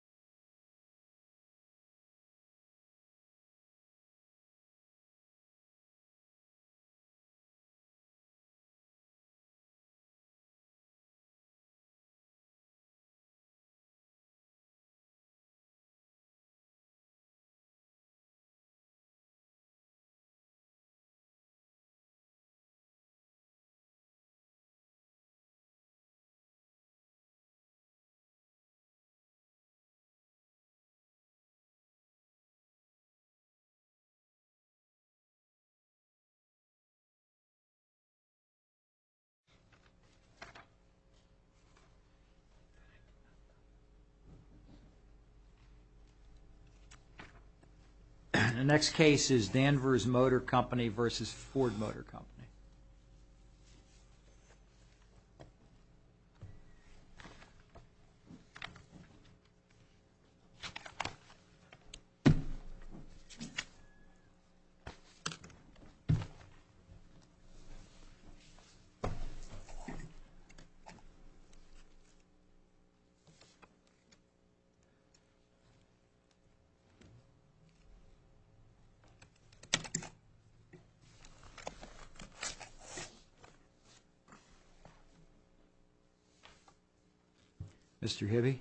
www.FordMotor.com www.FordMotor.com www.FordMotor.com www.FordMotor.com www.FordMotor.com www.FordMotor.com www.FordMotor.com www.FordMotor.com Mr. Heavy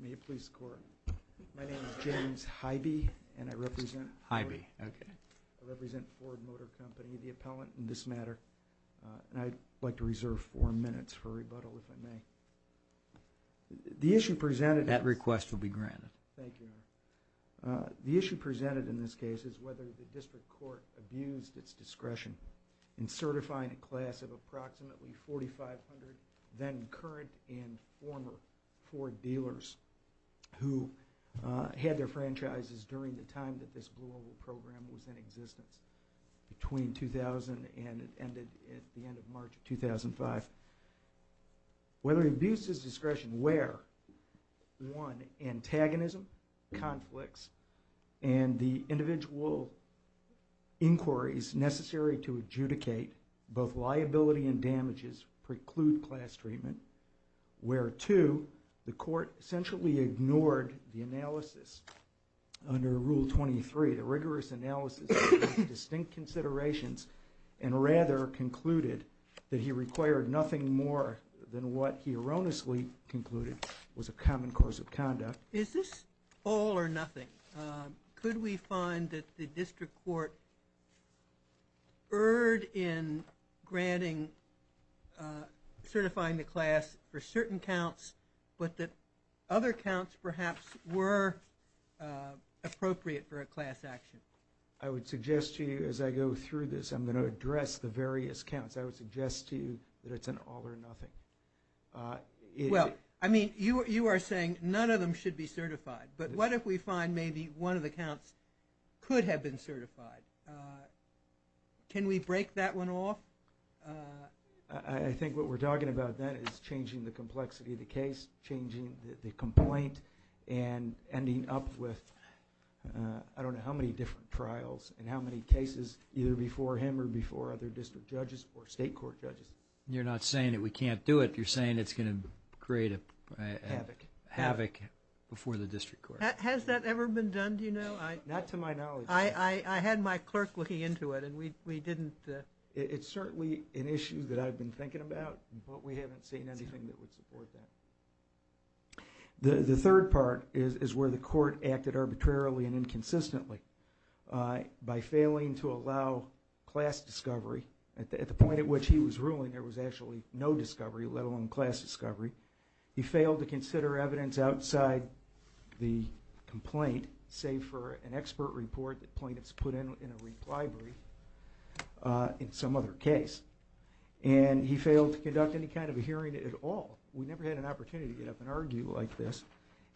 May it please the Court. My name is James Hybee and I represent Hybee. Okay. I represent Ford Motor Company, the appellant in this matter. And I'd like to reserve four minutes for rebuttal, if I may. The issue presented That request will be granted. Thank you, Your Honor. The issue presented in this case is whether the District Court abused its discretion in certifying a class of approximately 4,500 then current and former Ford dealers who had their franchises during the time that this global program was in existence, between 2000 and it ended at the end of March of 2005. Whether it abuses discretion where, one, antagonism, conflicts, and the individual inquiries necessary to establish his preclude class treatment, where, two, the Court essentially ignored the analysis under Rule 23, the rigorous analysis of distinct considerations and rather concluded that he required nothing more than what he erroneously concluded was a common course of conduct. Is this all or nothing? Could we find that the District Court erred in granting certifying the class for certain counts but that other counts perhaps were appropriate for a class action? I would suggest to you as I go through this, I'm going to address the various counts. I would suggest to you that it's an all or nothing. Well, I mean, you are saying none of them should be certified. But what if we find maybe one of the counts could have been certified? Can we break that one off? I think what we're talking about then is changing the complexity of the case, changing the complaint, and ending up with I don't know how many different trials and how many cases either before him or before other District Judges or State Court Judges. You're not saying that we can't do it. You're saying it's going to create havoc before the District Court. Has that ever been done? Do you know? Not to my knowledge. I had my clerk looking into it and we didn't. It's certainly an issue that I've been thinking about but we haven't seen anything that would support that. The third part is where the Court acted arbitrarily and inconsistently. By failing to allow class discovery, at the point at which he was ruling there was actually no discovery, let alone class discovery, he failed to consider evidence outside the complaint save for an expert report that plaintiffs put in a reply brief in some other case. And he failed to conduct any kind of a hearing at all. We never had an opportunity to get up and argue like this.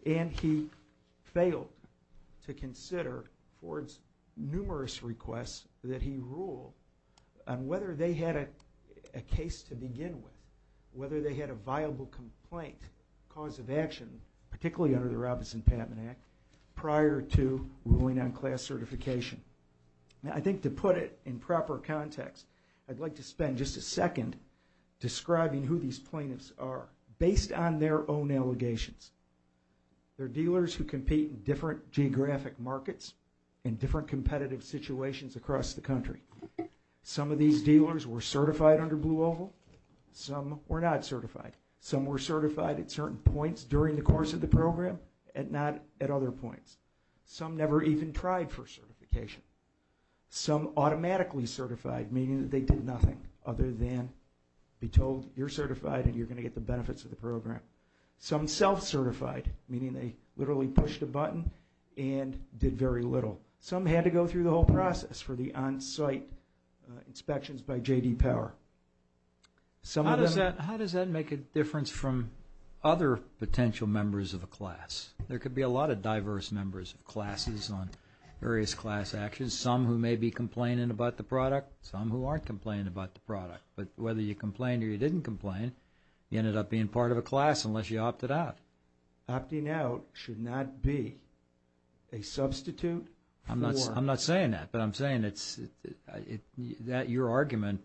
And he failed to consider Ford's numerous requests that he ruled on whether they had a case to begin with, whether they had a viable complaint, cause of action, particularly under the prior to ruling on class certification. Now, I think to put it in proper context, I'd like to spend just a second describing who these plaintiffs are based on their own allegations. They're dealers who compete in different geographic markets and different competitive situations across the country. Some of these dealers were certified under Blue Oval. Some were not certified. Some were certified at certain points during the course of the program. Some never even tried for certification. Some automatically certified, meaning that they did nothing other than be told you're certified and you're going to get the benefits of the program. Some self-certified, meaning they literally pushed a button and did very little. Some had to go through the whole process for the on-site inspections by J.D. Power. How does that make a difference from other potential members of a class? There could be a lot of diverse members of classes on various class actions. Some who may be complaining about the product. Some who aren't complaining about the product. But whether you complained or you didn't complain, you ended up being part of a class unless you opted out. Opting out should not be a substitute for... I'm not saying that, but I'm saying that your argument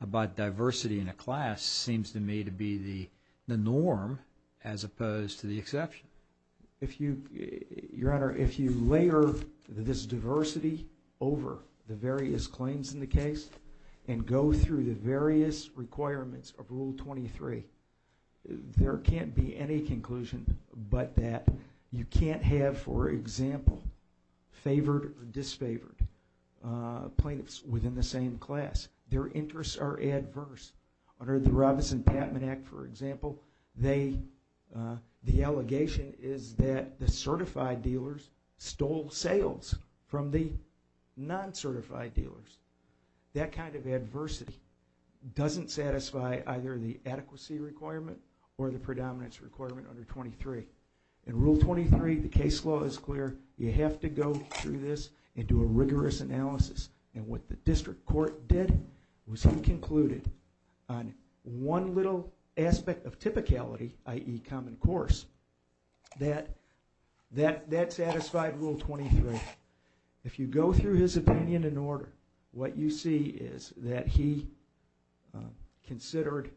about diversity in a class seems to me to be the norm as opposed to the norm. Your Honor, if you layer this diversity over the various claims in the case and go through the various requirements of Rule 23, there can't be any conclusion but that you can't have, for example, favored or disfavored plaintiffs within the same class. Their interests are adverse. Under the Robinson-Patman Act, for example, the allegation is that the certified dealers stole sales from the non-certified dealers. That kind of adversity doesn't satisfy either the adequacy requirement or the predominance requirement under 23. In Rule 23, the case law is clear. You have to go through this and do a rigorous analysis. And what the district court did was he concluded on one little aspect of typicality, i.e., common course, that that satisfied Rule 23. If you go through his opinion and order, what you see is that he considered,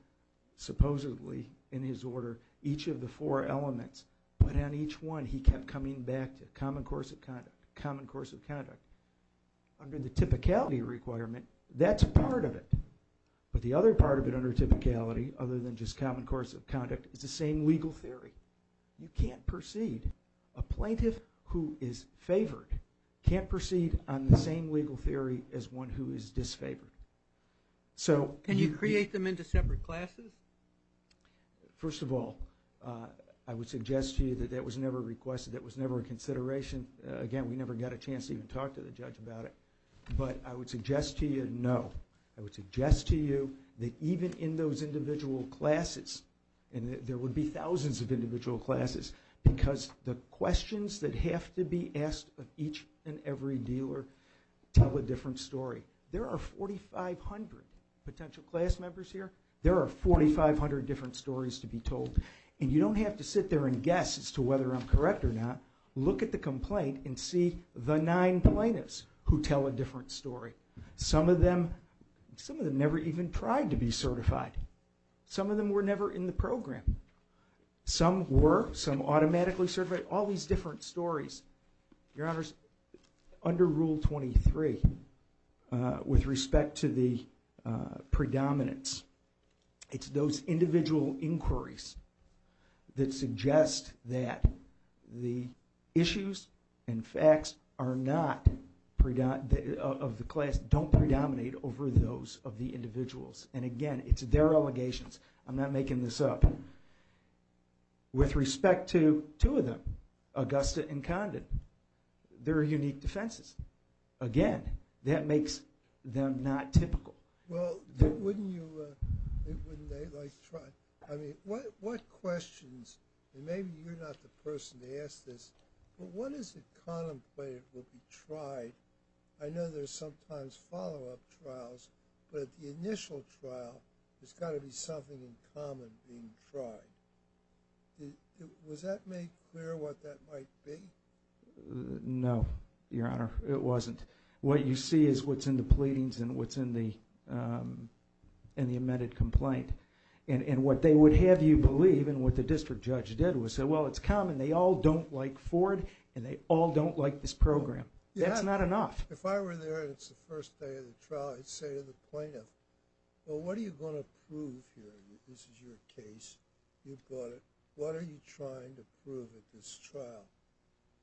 supposedly, in his order, each of the four elements. But on each one, he kept coming back to common course of conduct. Under the typicality requirement, that's part of it. But the other part of it under typicality, other than just common course of conduct, is the same legal theory. You can't proceed. A plaintiff who is favored can't proceed on the same legal theory as one who is disfavored. Can you create them into separate classes? First of all, I would suggest to you that that was never requested. That was never a consideration. Again, we never got a chance to even talk to the judge about it. But I would suggest to you, no. I would suggest to you that even in those individual classes, and there would be thousands of individual classes, because the questions that have to be asked of each and every dealer tell a different story. There are 4,500 potential class members here. There are 4,500 different stories to be told. And you don't have to sit there and guess as to whether I'm correct or not. Look at the complaint and see the nine plaintiffs who tell a different story. Some of them never even tried to be certified. Some of them were never in the program. Some were. Some automatically certified. All these different stories. Your Honors, under Rule 23, with respect to the predominance, it's those individual inquiries that suggest that the issues and facts are not of the highest, don't predominate over those of the individuals. And again, it's their allegations. I'm not making this up. With respect to two of them, Augusta and Condon, they're unique defenses. Again, that makes them not typical. Well, wouldn't you, wouldn't they like to try? I mean, what questions, and maybe you're not the person to ask this, but when is it contemplated will be tried? I know there's sometimes follow-up trials, but the initial trial, there's got to be something in common being tried. Was that made clear what that might be? No, Your Honor, it wasn't. What you see is what's in the pleadings and what's in the amended complaint. And what they would have you believe and what the district judge did was say, well, it's common. They all don't like Ford and they all don't like this program. That's not enough. If I were there and it's the first day of the trial, I'd say to the plaintiff, well, what are you going to prove here? This is your case. You've got it. What are you trying to prove at this trial?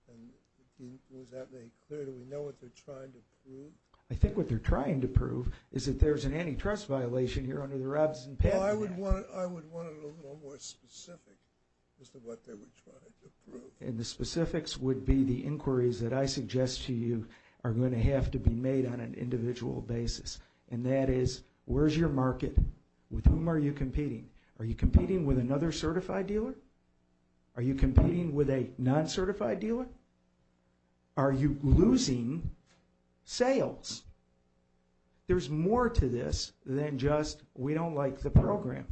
And was that made clear? Do we know what they're trying to prove? I think what they're trying to prove is that there's an antitrust violation here under the Robinson-Patton Act. I would want it a little more specific as to what they were trying to prove. And the specifics would be the inquiries that I suggest to you are going to have to be made on an individual basis. And that is, where's your market? With whom are you competing? Are you competing with another certified dealer? Are you competing with a non-certified dealer? Are you losing sales? There's more to this than just we don't like the program.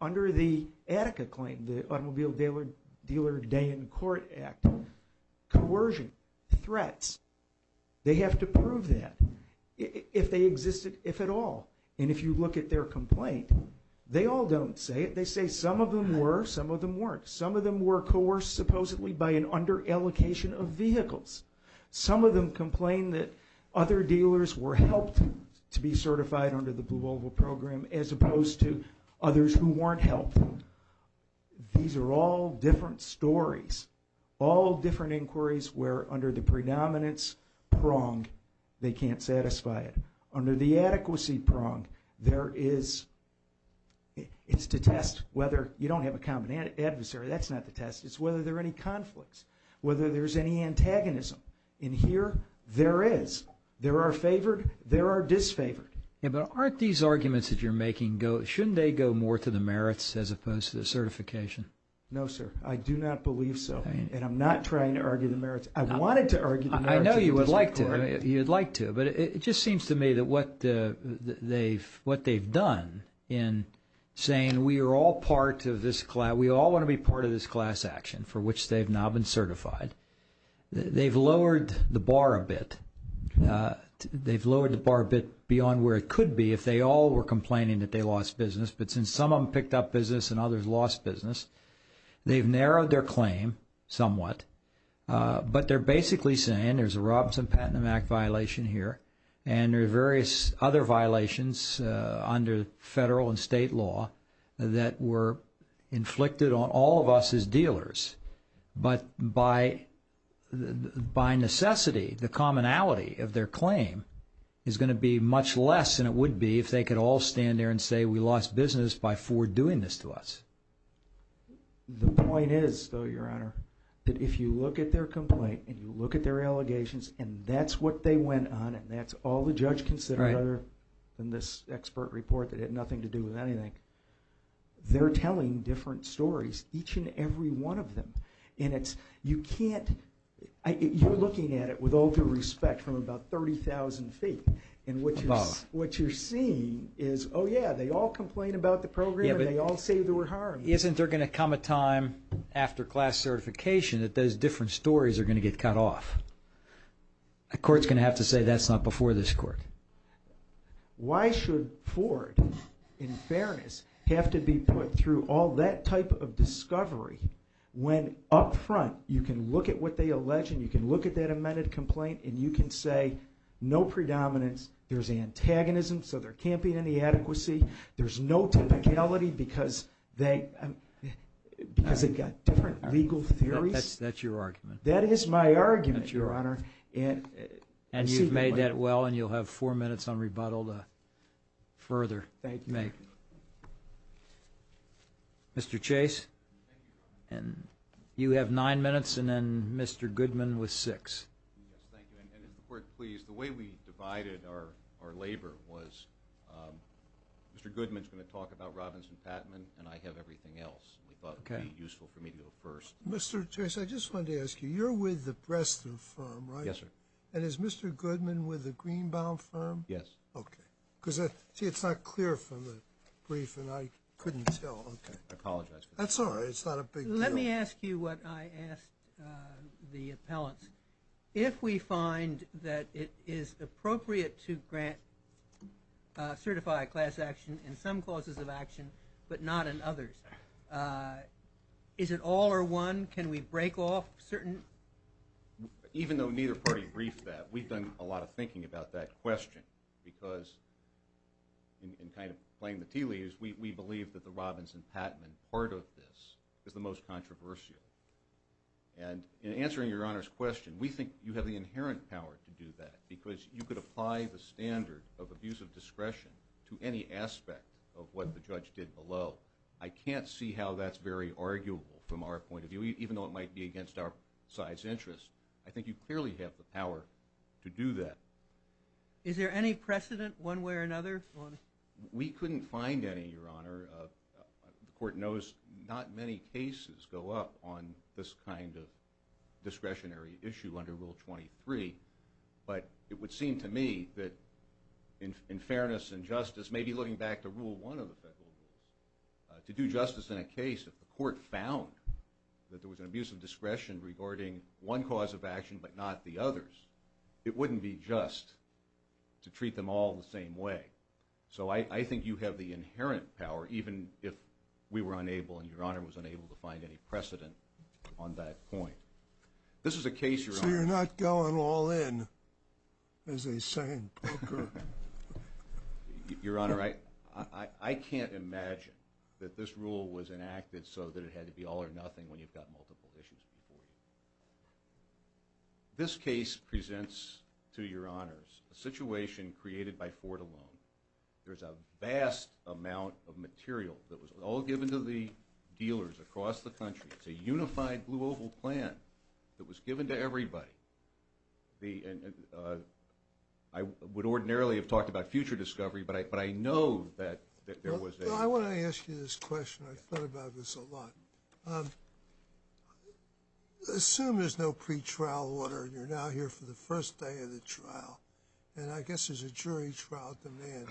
Under the Attica claim, the Automobile Dealer Day in Court Act, coercion, threats, they have to prove that if they existed, if at all. And if you look at their complaint, they all don't say it. They say some of them were, some of them weren't. Some of them were coerced supposedly by an underallocation of vehicles. Some of them complained that other dealers were helped to be certified under the others who weren't helped. These are all different stories. All different inquiries where under the predominance prong, they can't satisfy it. Under the adequacy prong, there is, it's to test whether, you don't have a common adversary. That's not the test. It's whether there are any conflicts, whether there's any antagonism. And here, there is. There are favored. There are disfavored. Yeah, but aren't these arguments that you're making go, shouldn't they go more to the merits as opposed to the certification? No, sir. I do not believe so. And I'm not trying to argue the merits. I wanted to argue the merits. I know you would like to. You'd like to. But it just seems to me that what they've done in saying we are all part of this, we all want to be part of this class action for which they've now been certified, they've lowered the bar a bit. They've lowered the bar a bit beyond where it could be if they all were complaining that they lost business. But since some of them picked up business and others lost business, they've narrowed their claim somewhat. But they're basically saying there's a Robinson Patent Act violation here and there are various other violations under federal and state law that were inflicted on all of us as dealers. But by necessity, the commonality of their claim is going to be much less than it would be if they could all stand there and say we lost business by Ford doing this to us. The point is, though, Your Honor, that if you look at their complaint and you look at their allegations and that's what they went on and that's all the judge considered other than this expert report that had nothing to do with anything, they're telling different stories, each and every one of them. And you're looking at it with all due respect from about 30,000 feet. And what you're seeing is, oh, yeah, they all complain about the program and they all say they were harmed. Isn't there going to come a time after class certification that those different stories are going to get cut off? A court's going to have to say that's not before this court. Why should Ford, in fairness, have to be put through all that type of discovery when up front you can look at what they allege and you can look at that amended complaint and you can say no predominance, there's antagonism, so there can't be any adequacy, there's no typicality because they've got different legal theories. That's your argument. That is my argument, Your Honor. And you've made that well and you'll have four minutes on rebuttal to further make. Thank you. Mr. Chase, you have nine minutes and then Mr. Goodman with six. Yes, thank you. And if the Court please, the way we divided our labor was Mr. Goodman's going to talk about Robinson-Patman and I have everything else. We thought it would be useful for me to go first. Mr. Chase, I just wanted to ask you, you're with the Bresta firm, right? Yes, sir. And is Mr. Goodman with the Greenbaum firm? Yes. Okay. See, it's not clear from the brief and I couldn't tell. I apologize for that. That's all right. It's not a big deal. Let me ask you what I asked the appellants. If we find that it is appropriate to certify a class action in some clauses of action but not in others, is it all or one? Can we break off certain? Even though neither party briefed that, we've done a lot of thinking about that question because in kind of playing the tea leaves, we believe that the Robinson-Patman part of this is the most controversial. And in answering Your Honor's question, we think you have the inherent power to do that because you could apply the standard of abuse of discretion to any aspect of what the judge did below. I can't see how that's very arguable from our point of view, even though it might be against our side's interest. I think you clearly have the power to do that. Is there any precedent one way or another? We couldn't find any, Your Honor. The court knows not many cases go up on this kind of discretionary issue under Rule 23. But it would seem to me that in fairness and justice, maybe looking back to Rule 1 of the federal rules, to do justice in a case, if the court found that there was an abuse of discretion regarding one cause of action but not the others, it wouldn't be just to treat them all the same way. So I think you have the inherent power, even if we were unable and Your Honor was unable to find any precedent on that point. This is a case, Your Honor. So you're not going all in as a sandpicker? Your Honor, I can't imagine that this rule was enacted so that it had to be all or nothing when you've got multiple issues before you. This case presents to Your Honors a situation created by Ford alone. There's a vast amount of material that was all given to the dealers across the country. It's a unified Blue Oval plan that was given to everybody. I would ordinarily have talked about future discovery, but I know that there was a... Well, I want to ask you this question. I've thought about this a lot. Assume there's no pretrial order and you're now here for the first day of the trial, and I guess there's a jury trial demand,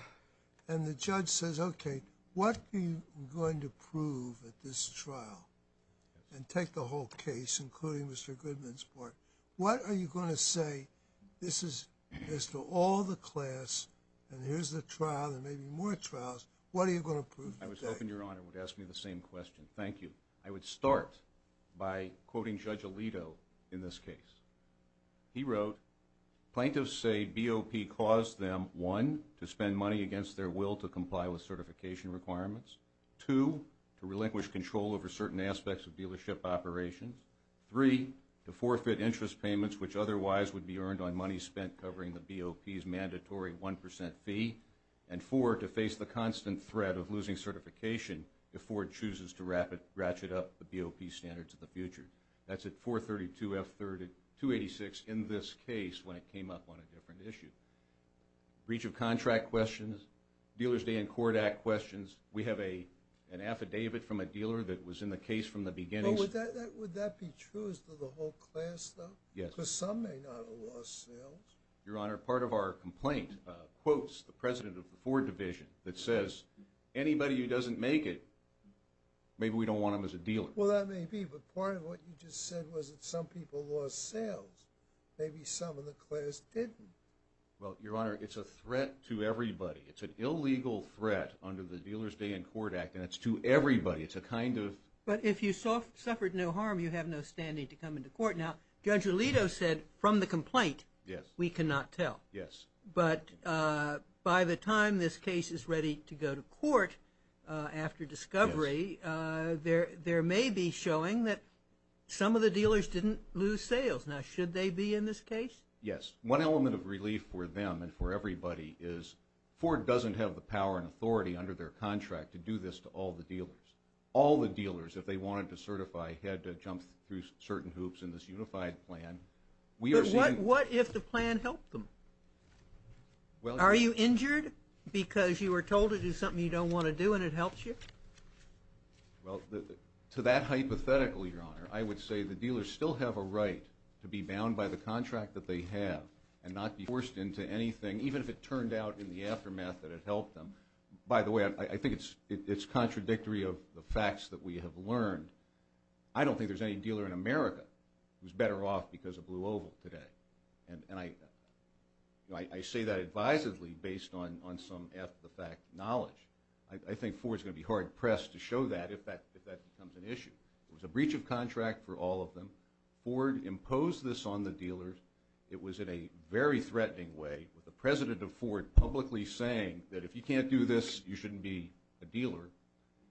and the judge says, okay, what are you going to prove at this trial? And take the whole case, including Mr. Goodman's part. What are you going to say, this is as to all the class, and here's the trial, there may be more trials, what are you going to prove? I was hoping Your Honor would ask me the same question. Thank you. I would start by quoting Judge Alito in this case. He wrote, plaintiffs say BOP caused them, one, to spend money against their will to comply with certification requirements, two, to relinquish control over certain aspects of dealership operations, three, to forfeit interest payments which otherwise would be earned on money spent covering the BOP's mandatory 1% fee, and four, to face the constant threat of losing certification if Ford chooses to ratchet up the BOP standards of the future. That's at 432F286 in this case when it came up on a different issue. Reach of contract questions, Dealer's Day and Court Act questions, we have an affidavit from a dealer that was in the case from the beginning. Would that be true as to the whole class though? Yes. Because some may not have lost sales. Your Honor, part of our complaint quotes the president of the Ford division that says anybody who doesn't make it, maybe we don't want them as a dealer. Well, that may be, but part of what you just said was that some people lost sales. Maybe some in the class didn't. Well, Your Honor, it's a threat to everybody. It's an illegal threat under the Dealer's Day and Court Act, and it's to everybody. It's a kind of. But if you suffered no harm, you have no standing to come into court. Now, Judge Alito said from the complaint we cannot tell. Yes. But by the time this case is ready to go to court after discovery, there may be showing that some of the dealers didn't lose sales. Now, should they be in this case? Yes. One element of relief for them and for everybody is Ford doesn't have the power and authority under their contract to do this to all the dealers. All the dealers, if they wanted to certify, had to jump through certain hoops in this unified plan. But what if the plan helped them? Are you injured because you were told to do something you don't want to do and it helps you? Well, to that hypothetical, Your Honor, I would say the dealers still have a right to be bound by the contract that they have and not be forced into anything, even if it turned out in the aftermath that it helped them. By the way, I think it's contradictory of the facts that we have learned. I don't think there's any dealer in America who's better off because of Blue Oval today. And I say that advisedly based on some after-the-fact knowledge. I think Ford's going to be hard-pressed to show that if that becomes an issue. It was a breach of contract for all of them. Ford imposed this on the dealers. It was in a very threatening way with the president of Ford publicly saying that if you can't do this, you shouldn't be a dealer.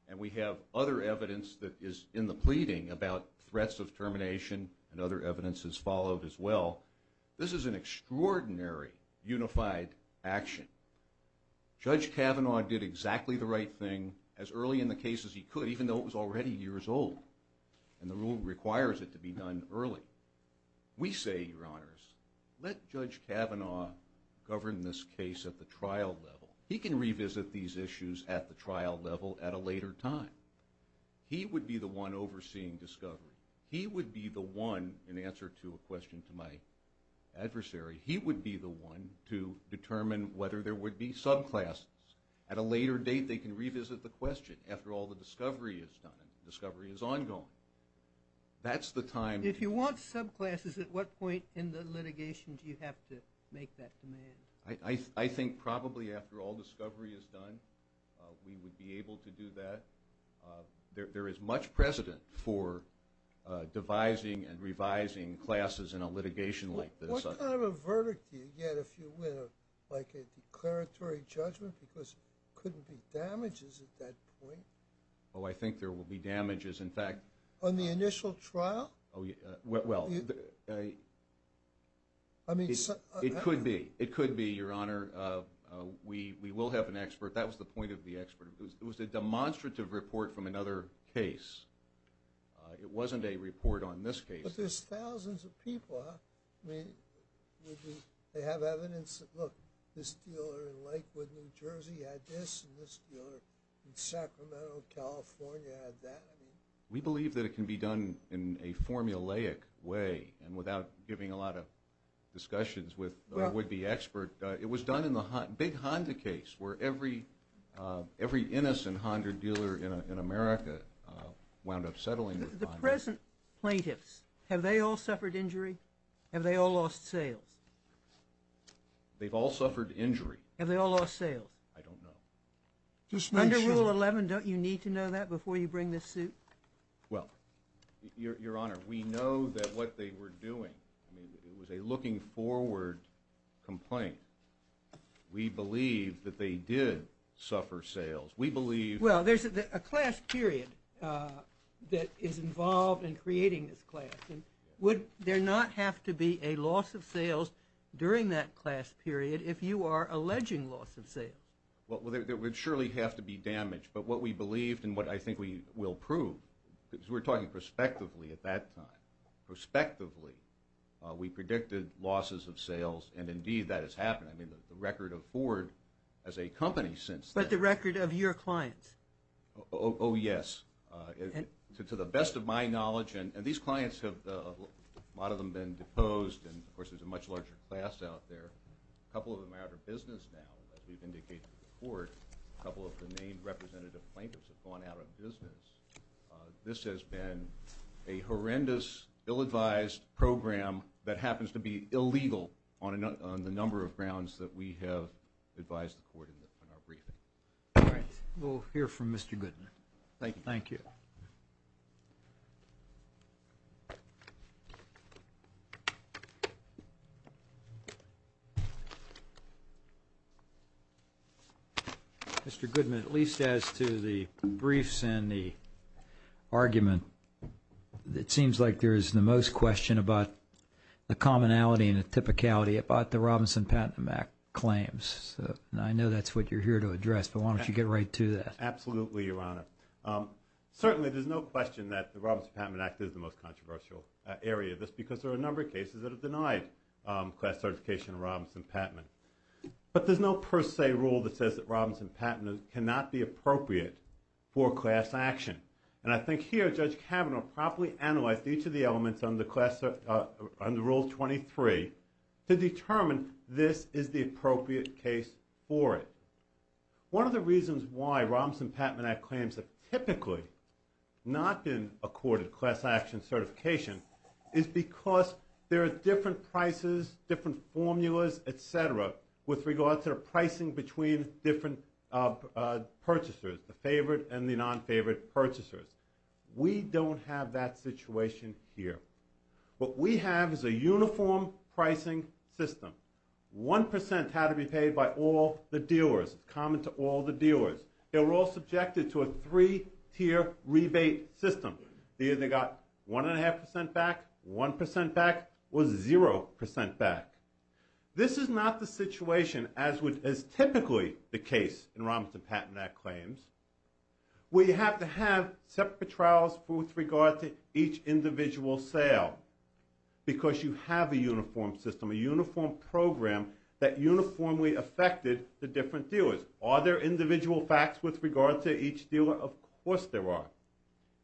And we have other evidence that is in the pleading about threats of termination and other evidence has followed as well. This is an extraordinary unified action. Judge Kavanaugh did exactly the right thing as early in the case as he could, even though it was already years old and the rule requires it to be done early. We say, Your Honors, let Judge Kavanaugh govern this case at the trial level. He can revisit these issues at the trial level at a later time. He would be the one overseeing discovery. He would be the one, in answer to a question to my adversary, he would be the one to determine whether there would be subclasses. At a later date, they can revisit the question. After all, the discovery is done and the discovery is ongoing. That's the time. If you want subclasses, at what point in the litigation do you have to make that demand? I think probably after all discovery is done we would be able to do that. There is much precedent for devising and revising classes in a litigation like this. What kind of a verdict do you get if you win, like a declaratory judgment? Because there couldn't be damages at that point. Oh, I think there will be damages. On the initial trial? Well, it could be, Your Honor. We will have an expert. That was the point of the expert. It was a demonstrative report from another case. It wasn't a report on this case. But there's thousands of people. I mean, they have evidence. Look, this dealer in Lakewood, New Jersey, had this, and this dealer in Sacramento, California, had that. We believe that it can be done in a formulaic way and without giving a lot of discussions with a would-be expert. It was done in the big Honda case where every innocent Honda dealer in America wound up settling with Honda. The present plaintiffs, have they all suffered injury? Have they all lost sales? They've all suffered injury. Have they all lost sales? I don't know. Under Rule 11, don't you need to know that before you bring this suit? Well, Your Honor, we know that what they were doing, it was a looking-forward complaint. We believe that they did suffer sales. Well, there's a class period that is involved in creating this class. Would there not have to be a loss of sales during that class period if you are alleging loss of sales? Well, there would surely have to be damage. But what we believed and what I think we will prove, because we're talking prospectively at that time, prospectively we predicted losses of sales, and indeed that has happened. I mean, the record of Ford as a company since then. But the record of your clients. Oh, yes. To the best of my knowledge, and these clients have, a lot of them have been deposed, and, of course, there's a much larger class out there. A couple of them are out of business now, as we've indicated to the Court. A couple of the named representative plaintiffs have gone out of business. This has been a horrendous, ill-advised program that happens to be illegal on the number of grounds that we have advised the Court in our briefing. All right. We'll hear from Mr. Goodman. Thank you. Thank you. Mr. Goodman, at least as to the briefs and the argument, it seems like there is the most question about the commonality and the typicality about the Robinson-Patton Act claims. I know that's what you're here to address, but why don't you get right to that. Absolutely, Your Honor. Certainly, there's no question that the Robinson-Patton Act is the most controversial area. That's because there are a number of cases that have denied class certification of Robinson-Patton. But there's no per se rule that says that Robinson-Patton cannot be appropriate for class action. And I think here Judge Kavanaugh properly analyzed each of the elements under Rule 23 to determine this is the appropriate case for it. One of the reasons why Robinson-Patton Act claims have typically not been accorded class action certification is because there are different prices, different formulas, et cetera, with regard to the pricing between different purchasers, the favored and the non-favored purchasers. We don't have that situation here. What we have is a uniform pricing system. One percent had to be paid by all the dealers. It's common to all the dealers. They were all subjected to a three-tier rebate system. They either got one and a half percent back, one percent back, or zero percent back. This is not the situation as typically the case in Robinson-Patton Act claims where you have to have separate trials with regard to each individual sale because you have a uniform system, a uniform program that uniformly affected the different dealers. Are there individual facts with regard to each dealer? Of course there are.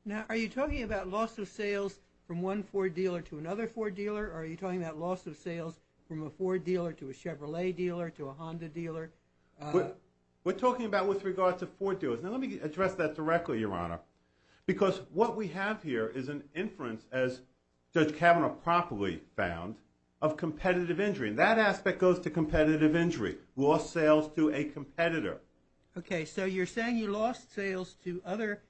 Now, are you talking about loss of sales from one Ford dealer to another Ford dealer or are you talking about loss of sales from a Ford dealer to a Chevrolet dealer to a Honda dealer? We're talking about with regard to Ford dealers. Now, let me address that directly, Your Honor, because what we have here is an inference, as Judge Kavanaugh promptly found, of competitive injury, and that aspect goes to competitive injury, loss of sales to a competitor. Okay, so you're saying you lost sales to other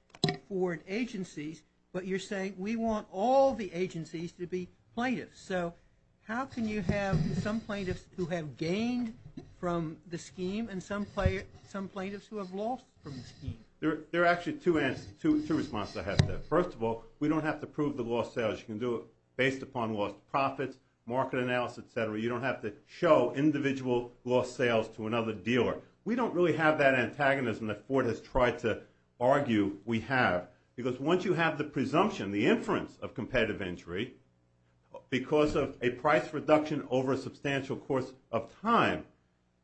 Ford agencies, but you're saying we want all the agencies to be plaintiffs. So how can you have some plaintiffs who have gained from the scheme and some plaintiffs who have lost from the scheme? There are actually two responses I have there. First of all, we don't have to prove the loss of sales. You can do it based upon loss of profits, market analysis, et cetera. You don't have to show individual loss of sales to another dealer. We don't really have that antagonism that Ford has tried to argue we have because once you have the presumption, the inference of competitive injury, because of a price reduction over a substantial course of time,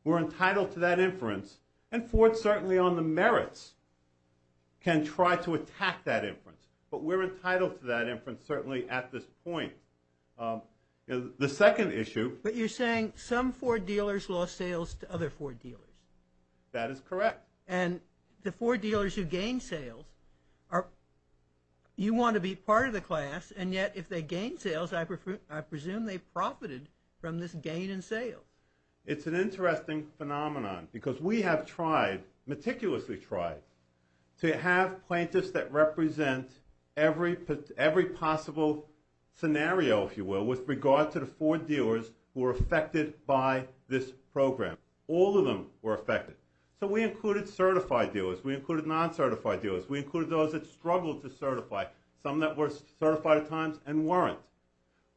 we're entitled to that inference, and Ford certainly on the merits can try to attack that inference, but we're entitled to that inference certainly at this point. The second issue— But you're saying some Ford dealers lost sales to other Ford dealers. That is correct. And the Ford dealers who gained sales, you want to be part of the class, and yet if they gained sales, I presume they profited from this gain in sales. It's an interesting phenomenon because we have tried, meticulously tried, to have plaintiffs that represent every possible scenario, if you will, with regard to the Ford dealers who were affected by this program. All of them were affected. So we included certified dealers. We included non-certified dealers. We included those that struggled to certify, some that were certified at times and weren't.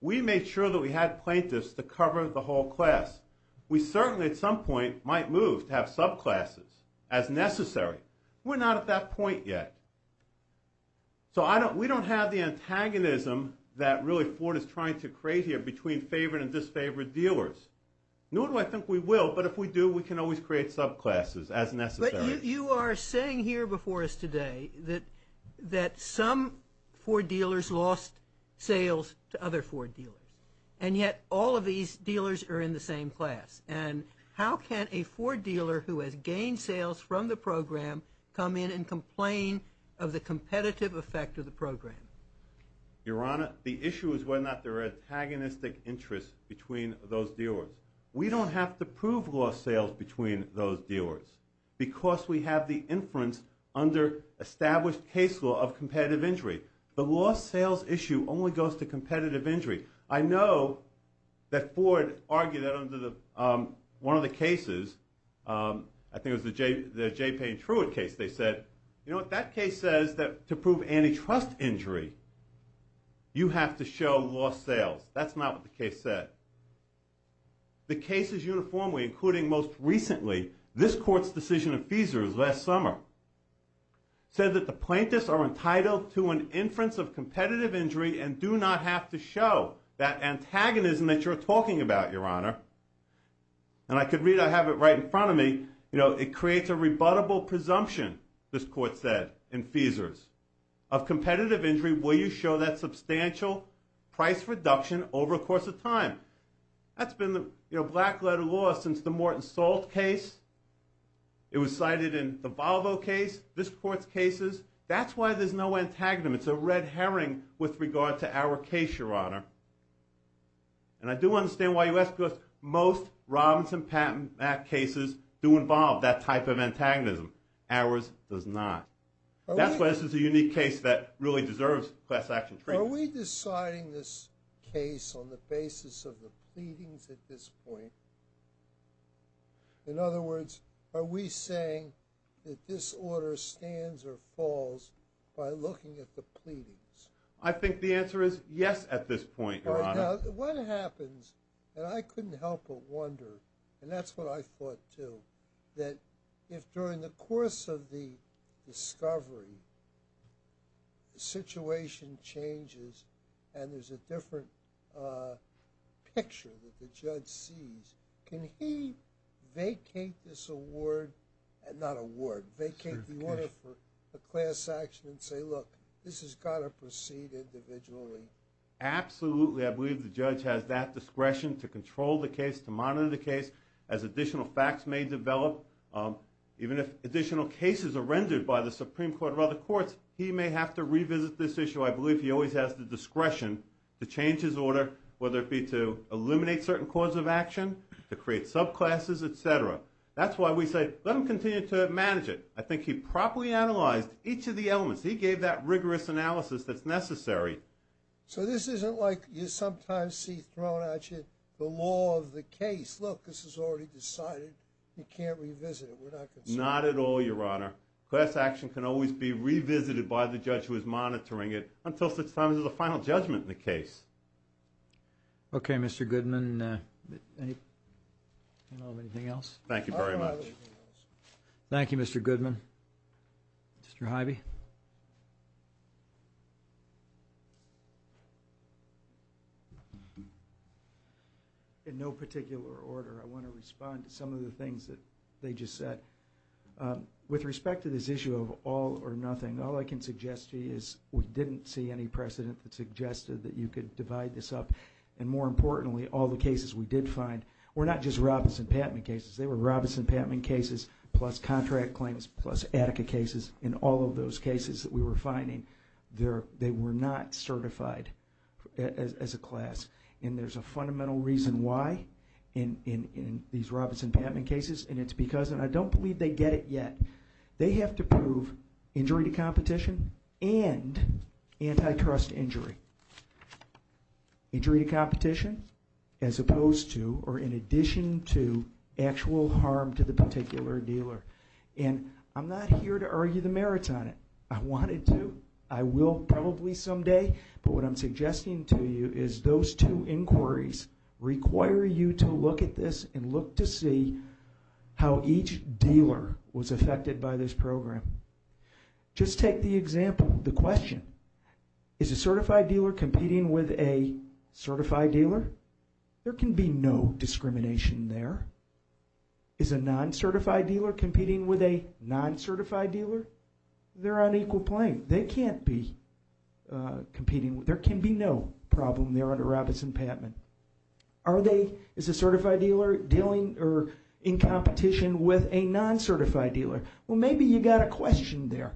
We made sure that we had plaintiffs to cover the whole class. We certainly at some point might move to have subclasses as necessary. We're not at that point yet. So we don't have the antagonism that really Ford is trying to create here between favored and disfavored dealers. Nor do I think we will, but if we do, we can always create subclasses as necessary. But you are saying here before us today that some Ford dealers lost sales to other Ford dealers, and yet all of these dealers are in the same class. And how can a Ford dealer who has gained sales from the program come in and complain of the competitive effect of the program? Your Honor, the issue is whether or not there are antagonistic interests between those dealers. We don't have to prove lost sales between those dealers because we have the inference under established case law of competitive injury. The lost sales issue only goes to competitive injury. I know that Ford argued that under one of the cases, I think it was the J. Payne Truitt case, they said, you know what, that case says that to prove antitrust injury, you have to show lost sales. That's not what the case said. The case is uniformly, including most recently, this court's decision in Feesers last summer, said that the plaintiffs are entitled to an inference of competitive injury and do not have to show that antagonism that you're talking about, Your Honor. And I could read, I have it right in front of me, it creates a rebuttable presumption, this court said in Feesers, of competitive injury where you show that substantial price reduction over a course of time. That's been the black letter law since the Morton Salt case. It was cited in the Volvo case, this court's cases. That's why there's no antagonism. It's a red herring with regard to our case, Your Honor. And I do understand why you ask because most Robinson Patent Act cases do involve that type of antagonism. Ours does not. That's why this is a unique case that really deserves class action treatment. Are we deciding this case on the basis of the pleadings at this point? In other words, are we saying that this order stands or falls by looking at the pleadings? I think the answer is yes at this point, Your Honor. What happens, and I couldn't help but wonder, and that's what I thought too, that if during the course of the discovery the situation changes and there's a different picture that the judge sees, can he vacate this award? Not award, vacate the order for a class action and say, look, this has got to proceed individually. Absolutely. I believe the judge has that discretion to control the case, to monitor the case as additional facts may develop. Even if additional cases are rendered by the Supreme Court or other courts, he may have to revisit this issue. I believe he always has the discretion to change his order, whether it be to eliminate certain cause of action, to create subclasses, et cetera. That's why we say let him continue to manage it. I think he properly analyzed each of the elements. He gave that rigorous analysis that's necessary. So this isn't like you sometimes see thrown at you the law of the case. Look, this is already decided. You can't revisit it. We're not concerned. Not at all, Your Honor. Class action can always be revisited by the judge who is monitoring it until such time as there's a final judgment in the case. Okay, Mr. Goodman. Anything else? Thank you very much. Thank you, Mr. Goodman. Mr. Hivey? In no particular order, I want to respond to some of the things that they just said. With respect to this issue of all or nothing, all I can suggest to you is we didn't see any precedent that suggested that you could divide this up. And more importantly, all the cases we did find were not just Robinson-Patman cases. They were Robinson-Patman cases plus contract claims plus Attica cases. In all of those cases that we were finding, they were not certified as a class. And there's a fundamental reason why in these Robinson-Patman cases, and it's because, and I don't believe they get it yet, they have to prove injury to competition and antitrust injury. Injury to competition as opposed to, or in addition to, actual harm to the particular dealer. And I'm not here to argue the merits on it. I wanted to. I will probably someday. But what I'm suggesting to you is those two inquiries require you to look at this and look to see how each dealer was affected by this program. Just take the example, the question. Is a certified dealer competing with a certified dealer? There can be no discrimination there. Is a non-certified dealer competing with a non-certified dealer? They're on equal playing. They can't be competing. There can be no problem there under Robinson-Patman. Are they, is a certified dealer dealing or in competition with a non-certified dealer? Well, maybe you got a question there.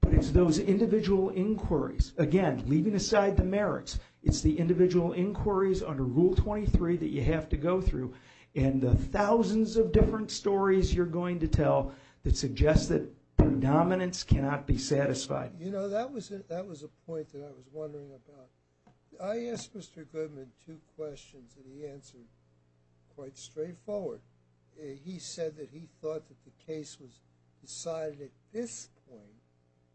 But it's those individual inquiries. Again, leaving aside the merits, it's the individual inquiries under Rule 23 that you have to go through and the thousands of different stories you're going to tell that suggest that predominance cannot be satisfied. You know, that was a point that I was wondering about. I asked Mr. Goodman two questions and he answered quite straightforward. He said that he thought that the case was decided at this point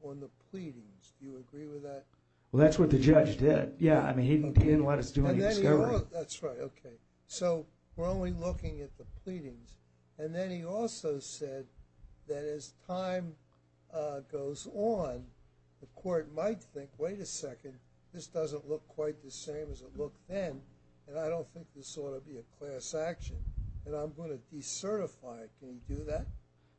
on the pleadings. Do you agree with that? Well, that's what the judge did. Yeah, I mean, he didn't let us do any discovery. That's right, okay. So we're only looking at the pleadings. And then he also said that as time goes on, the court might think, wait a second, this doesn't look quite the same as it looked then and I don't think this ought to be a class action. And I'm going to decertify it. Can he do that?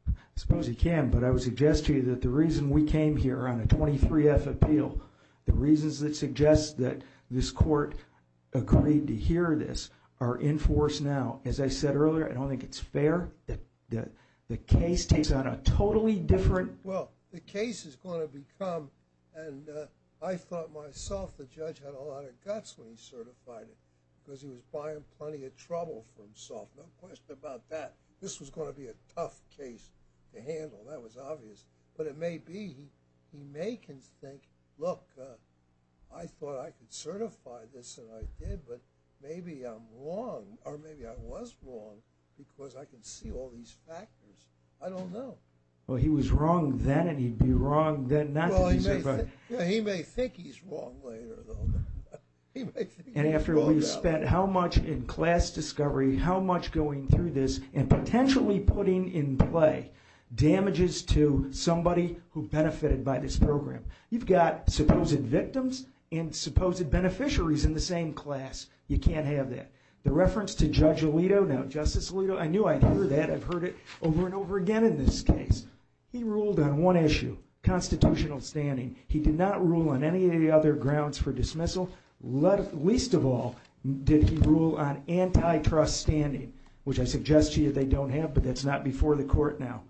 I suppose he can. But I would suggest to you that the reason we came here on a 23-F appeal, the reasons that suggest that this court agreed to hear this are in force now. As I said earlier, I don't think it's fair that the case takes on a totally different – Well, the case is going to become – and I thought myself the judge had a lot of guts when he certified it because he was buying plenty of trouble for himself. No question about that. This was going to be a tough case to handle. That was obvious. But it may be he may think, look, I thought I could certify this and I did, but maybe I'm wrong or maybe I was wrong because I can see all these factors. I don't know. Well, he was wrong then and he'd be wrong then not to be – Well, he may think he's wrong later though. And after we spent how much in class discovery, how much going through this and potentially putting in play damages to somebody who benefited by this program. You've got supposed victims and supposed beneficiaries in the same class. You can't have that. The reference to Judge Alito, now Justice Alito, I knew I'd hear that. I've heard it over and over again in this case. He ruled on one issue, constitutional standing. He did not rule on any of the other grounds for dismissal. Least of all, did he rule on antitrust standing, which I suggest to you they don't have, but that's not before the court now.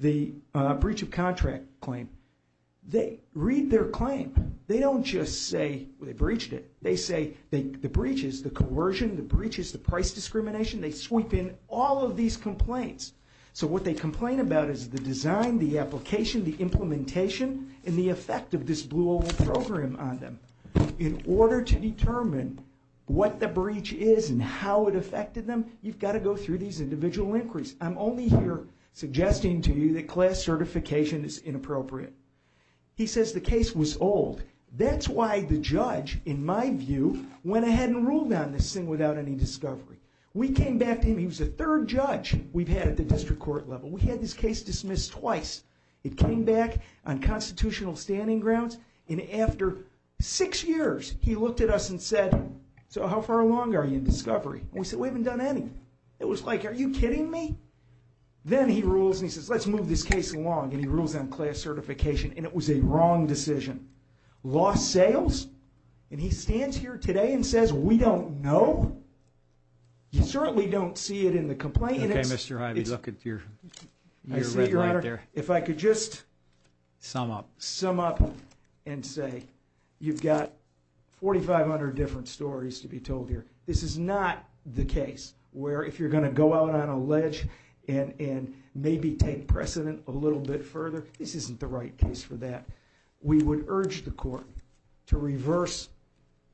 The breach of contract claim. They read their claim. They don't just say they breached it. They say the breaches, the coercion, the breaches, the price discrimination, they sweep in all of these complaints. So what they complain about is the design, the application, the implementation, and the effect of this blue oval program on them. In order to determine what the breach is and how it affected them, you've got to go through these individual inquiries. I'm only here suggesting to you that class certification is inappropriate. He says the case was old. That's why the judge, in my view, went ahead and ruled on this thing without any discovery. We came back to him. He was the third judge we've had at the district court level. We had this case dismissed twice. It came back on constitutional standing grounds, and after six years he looked at us and said, so how far along are you in discovery? We said we haven't done anything. It was like, are you kidding me? Then he rules and he says, let's move this case along, and he rules on class certification, and it was a wrong decision. Lost sales? And he stands here today and says we don't know? You certainly don't see it in the complaint. Okay, Mr. Hyde, you look at your red right there. If I could just sum up and say you've got 4,500 different stories to be told here. This is not the case where if you're going to go out on a ledge and maybe take precedent a little bit further, this isn't the right case for that. We would urge the court to reverse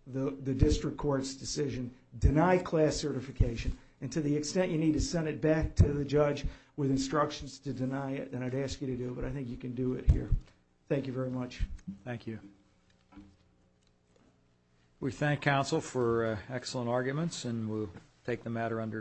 the district court's decision, deny class certification, and to the extent you need to send it back to the judge with instructions to deny it, then I'd ask you to do it, but I think you can do it here. Thank you very much. Thank you. We thank counsel for excellent arguments, and we'll take the matter under advisement.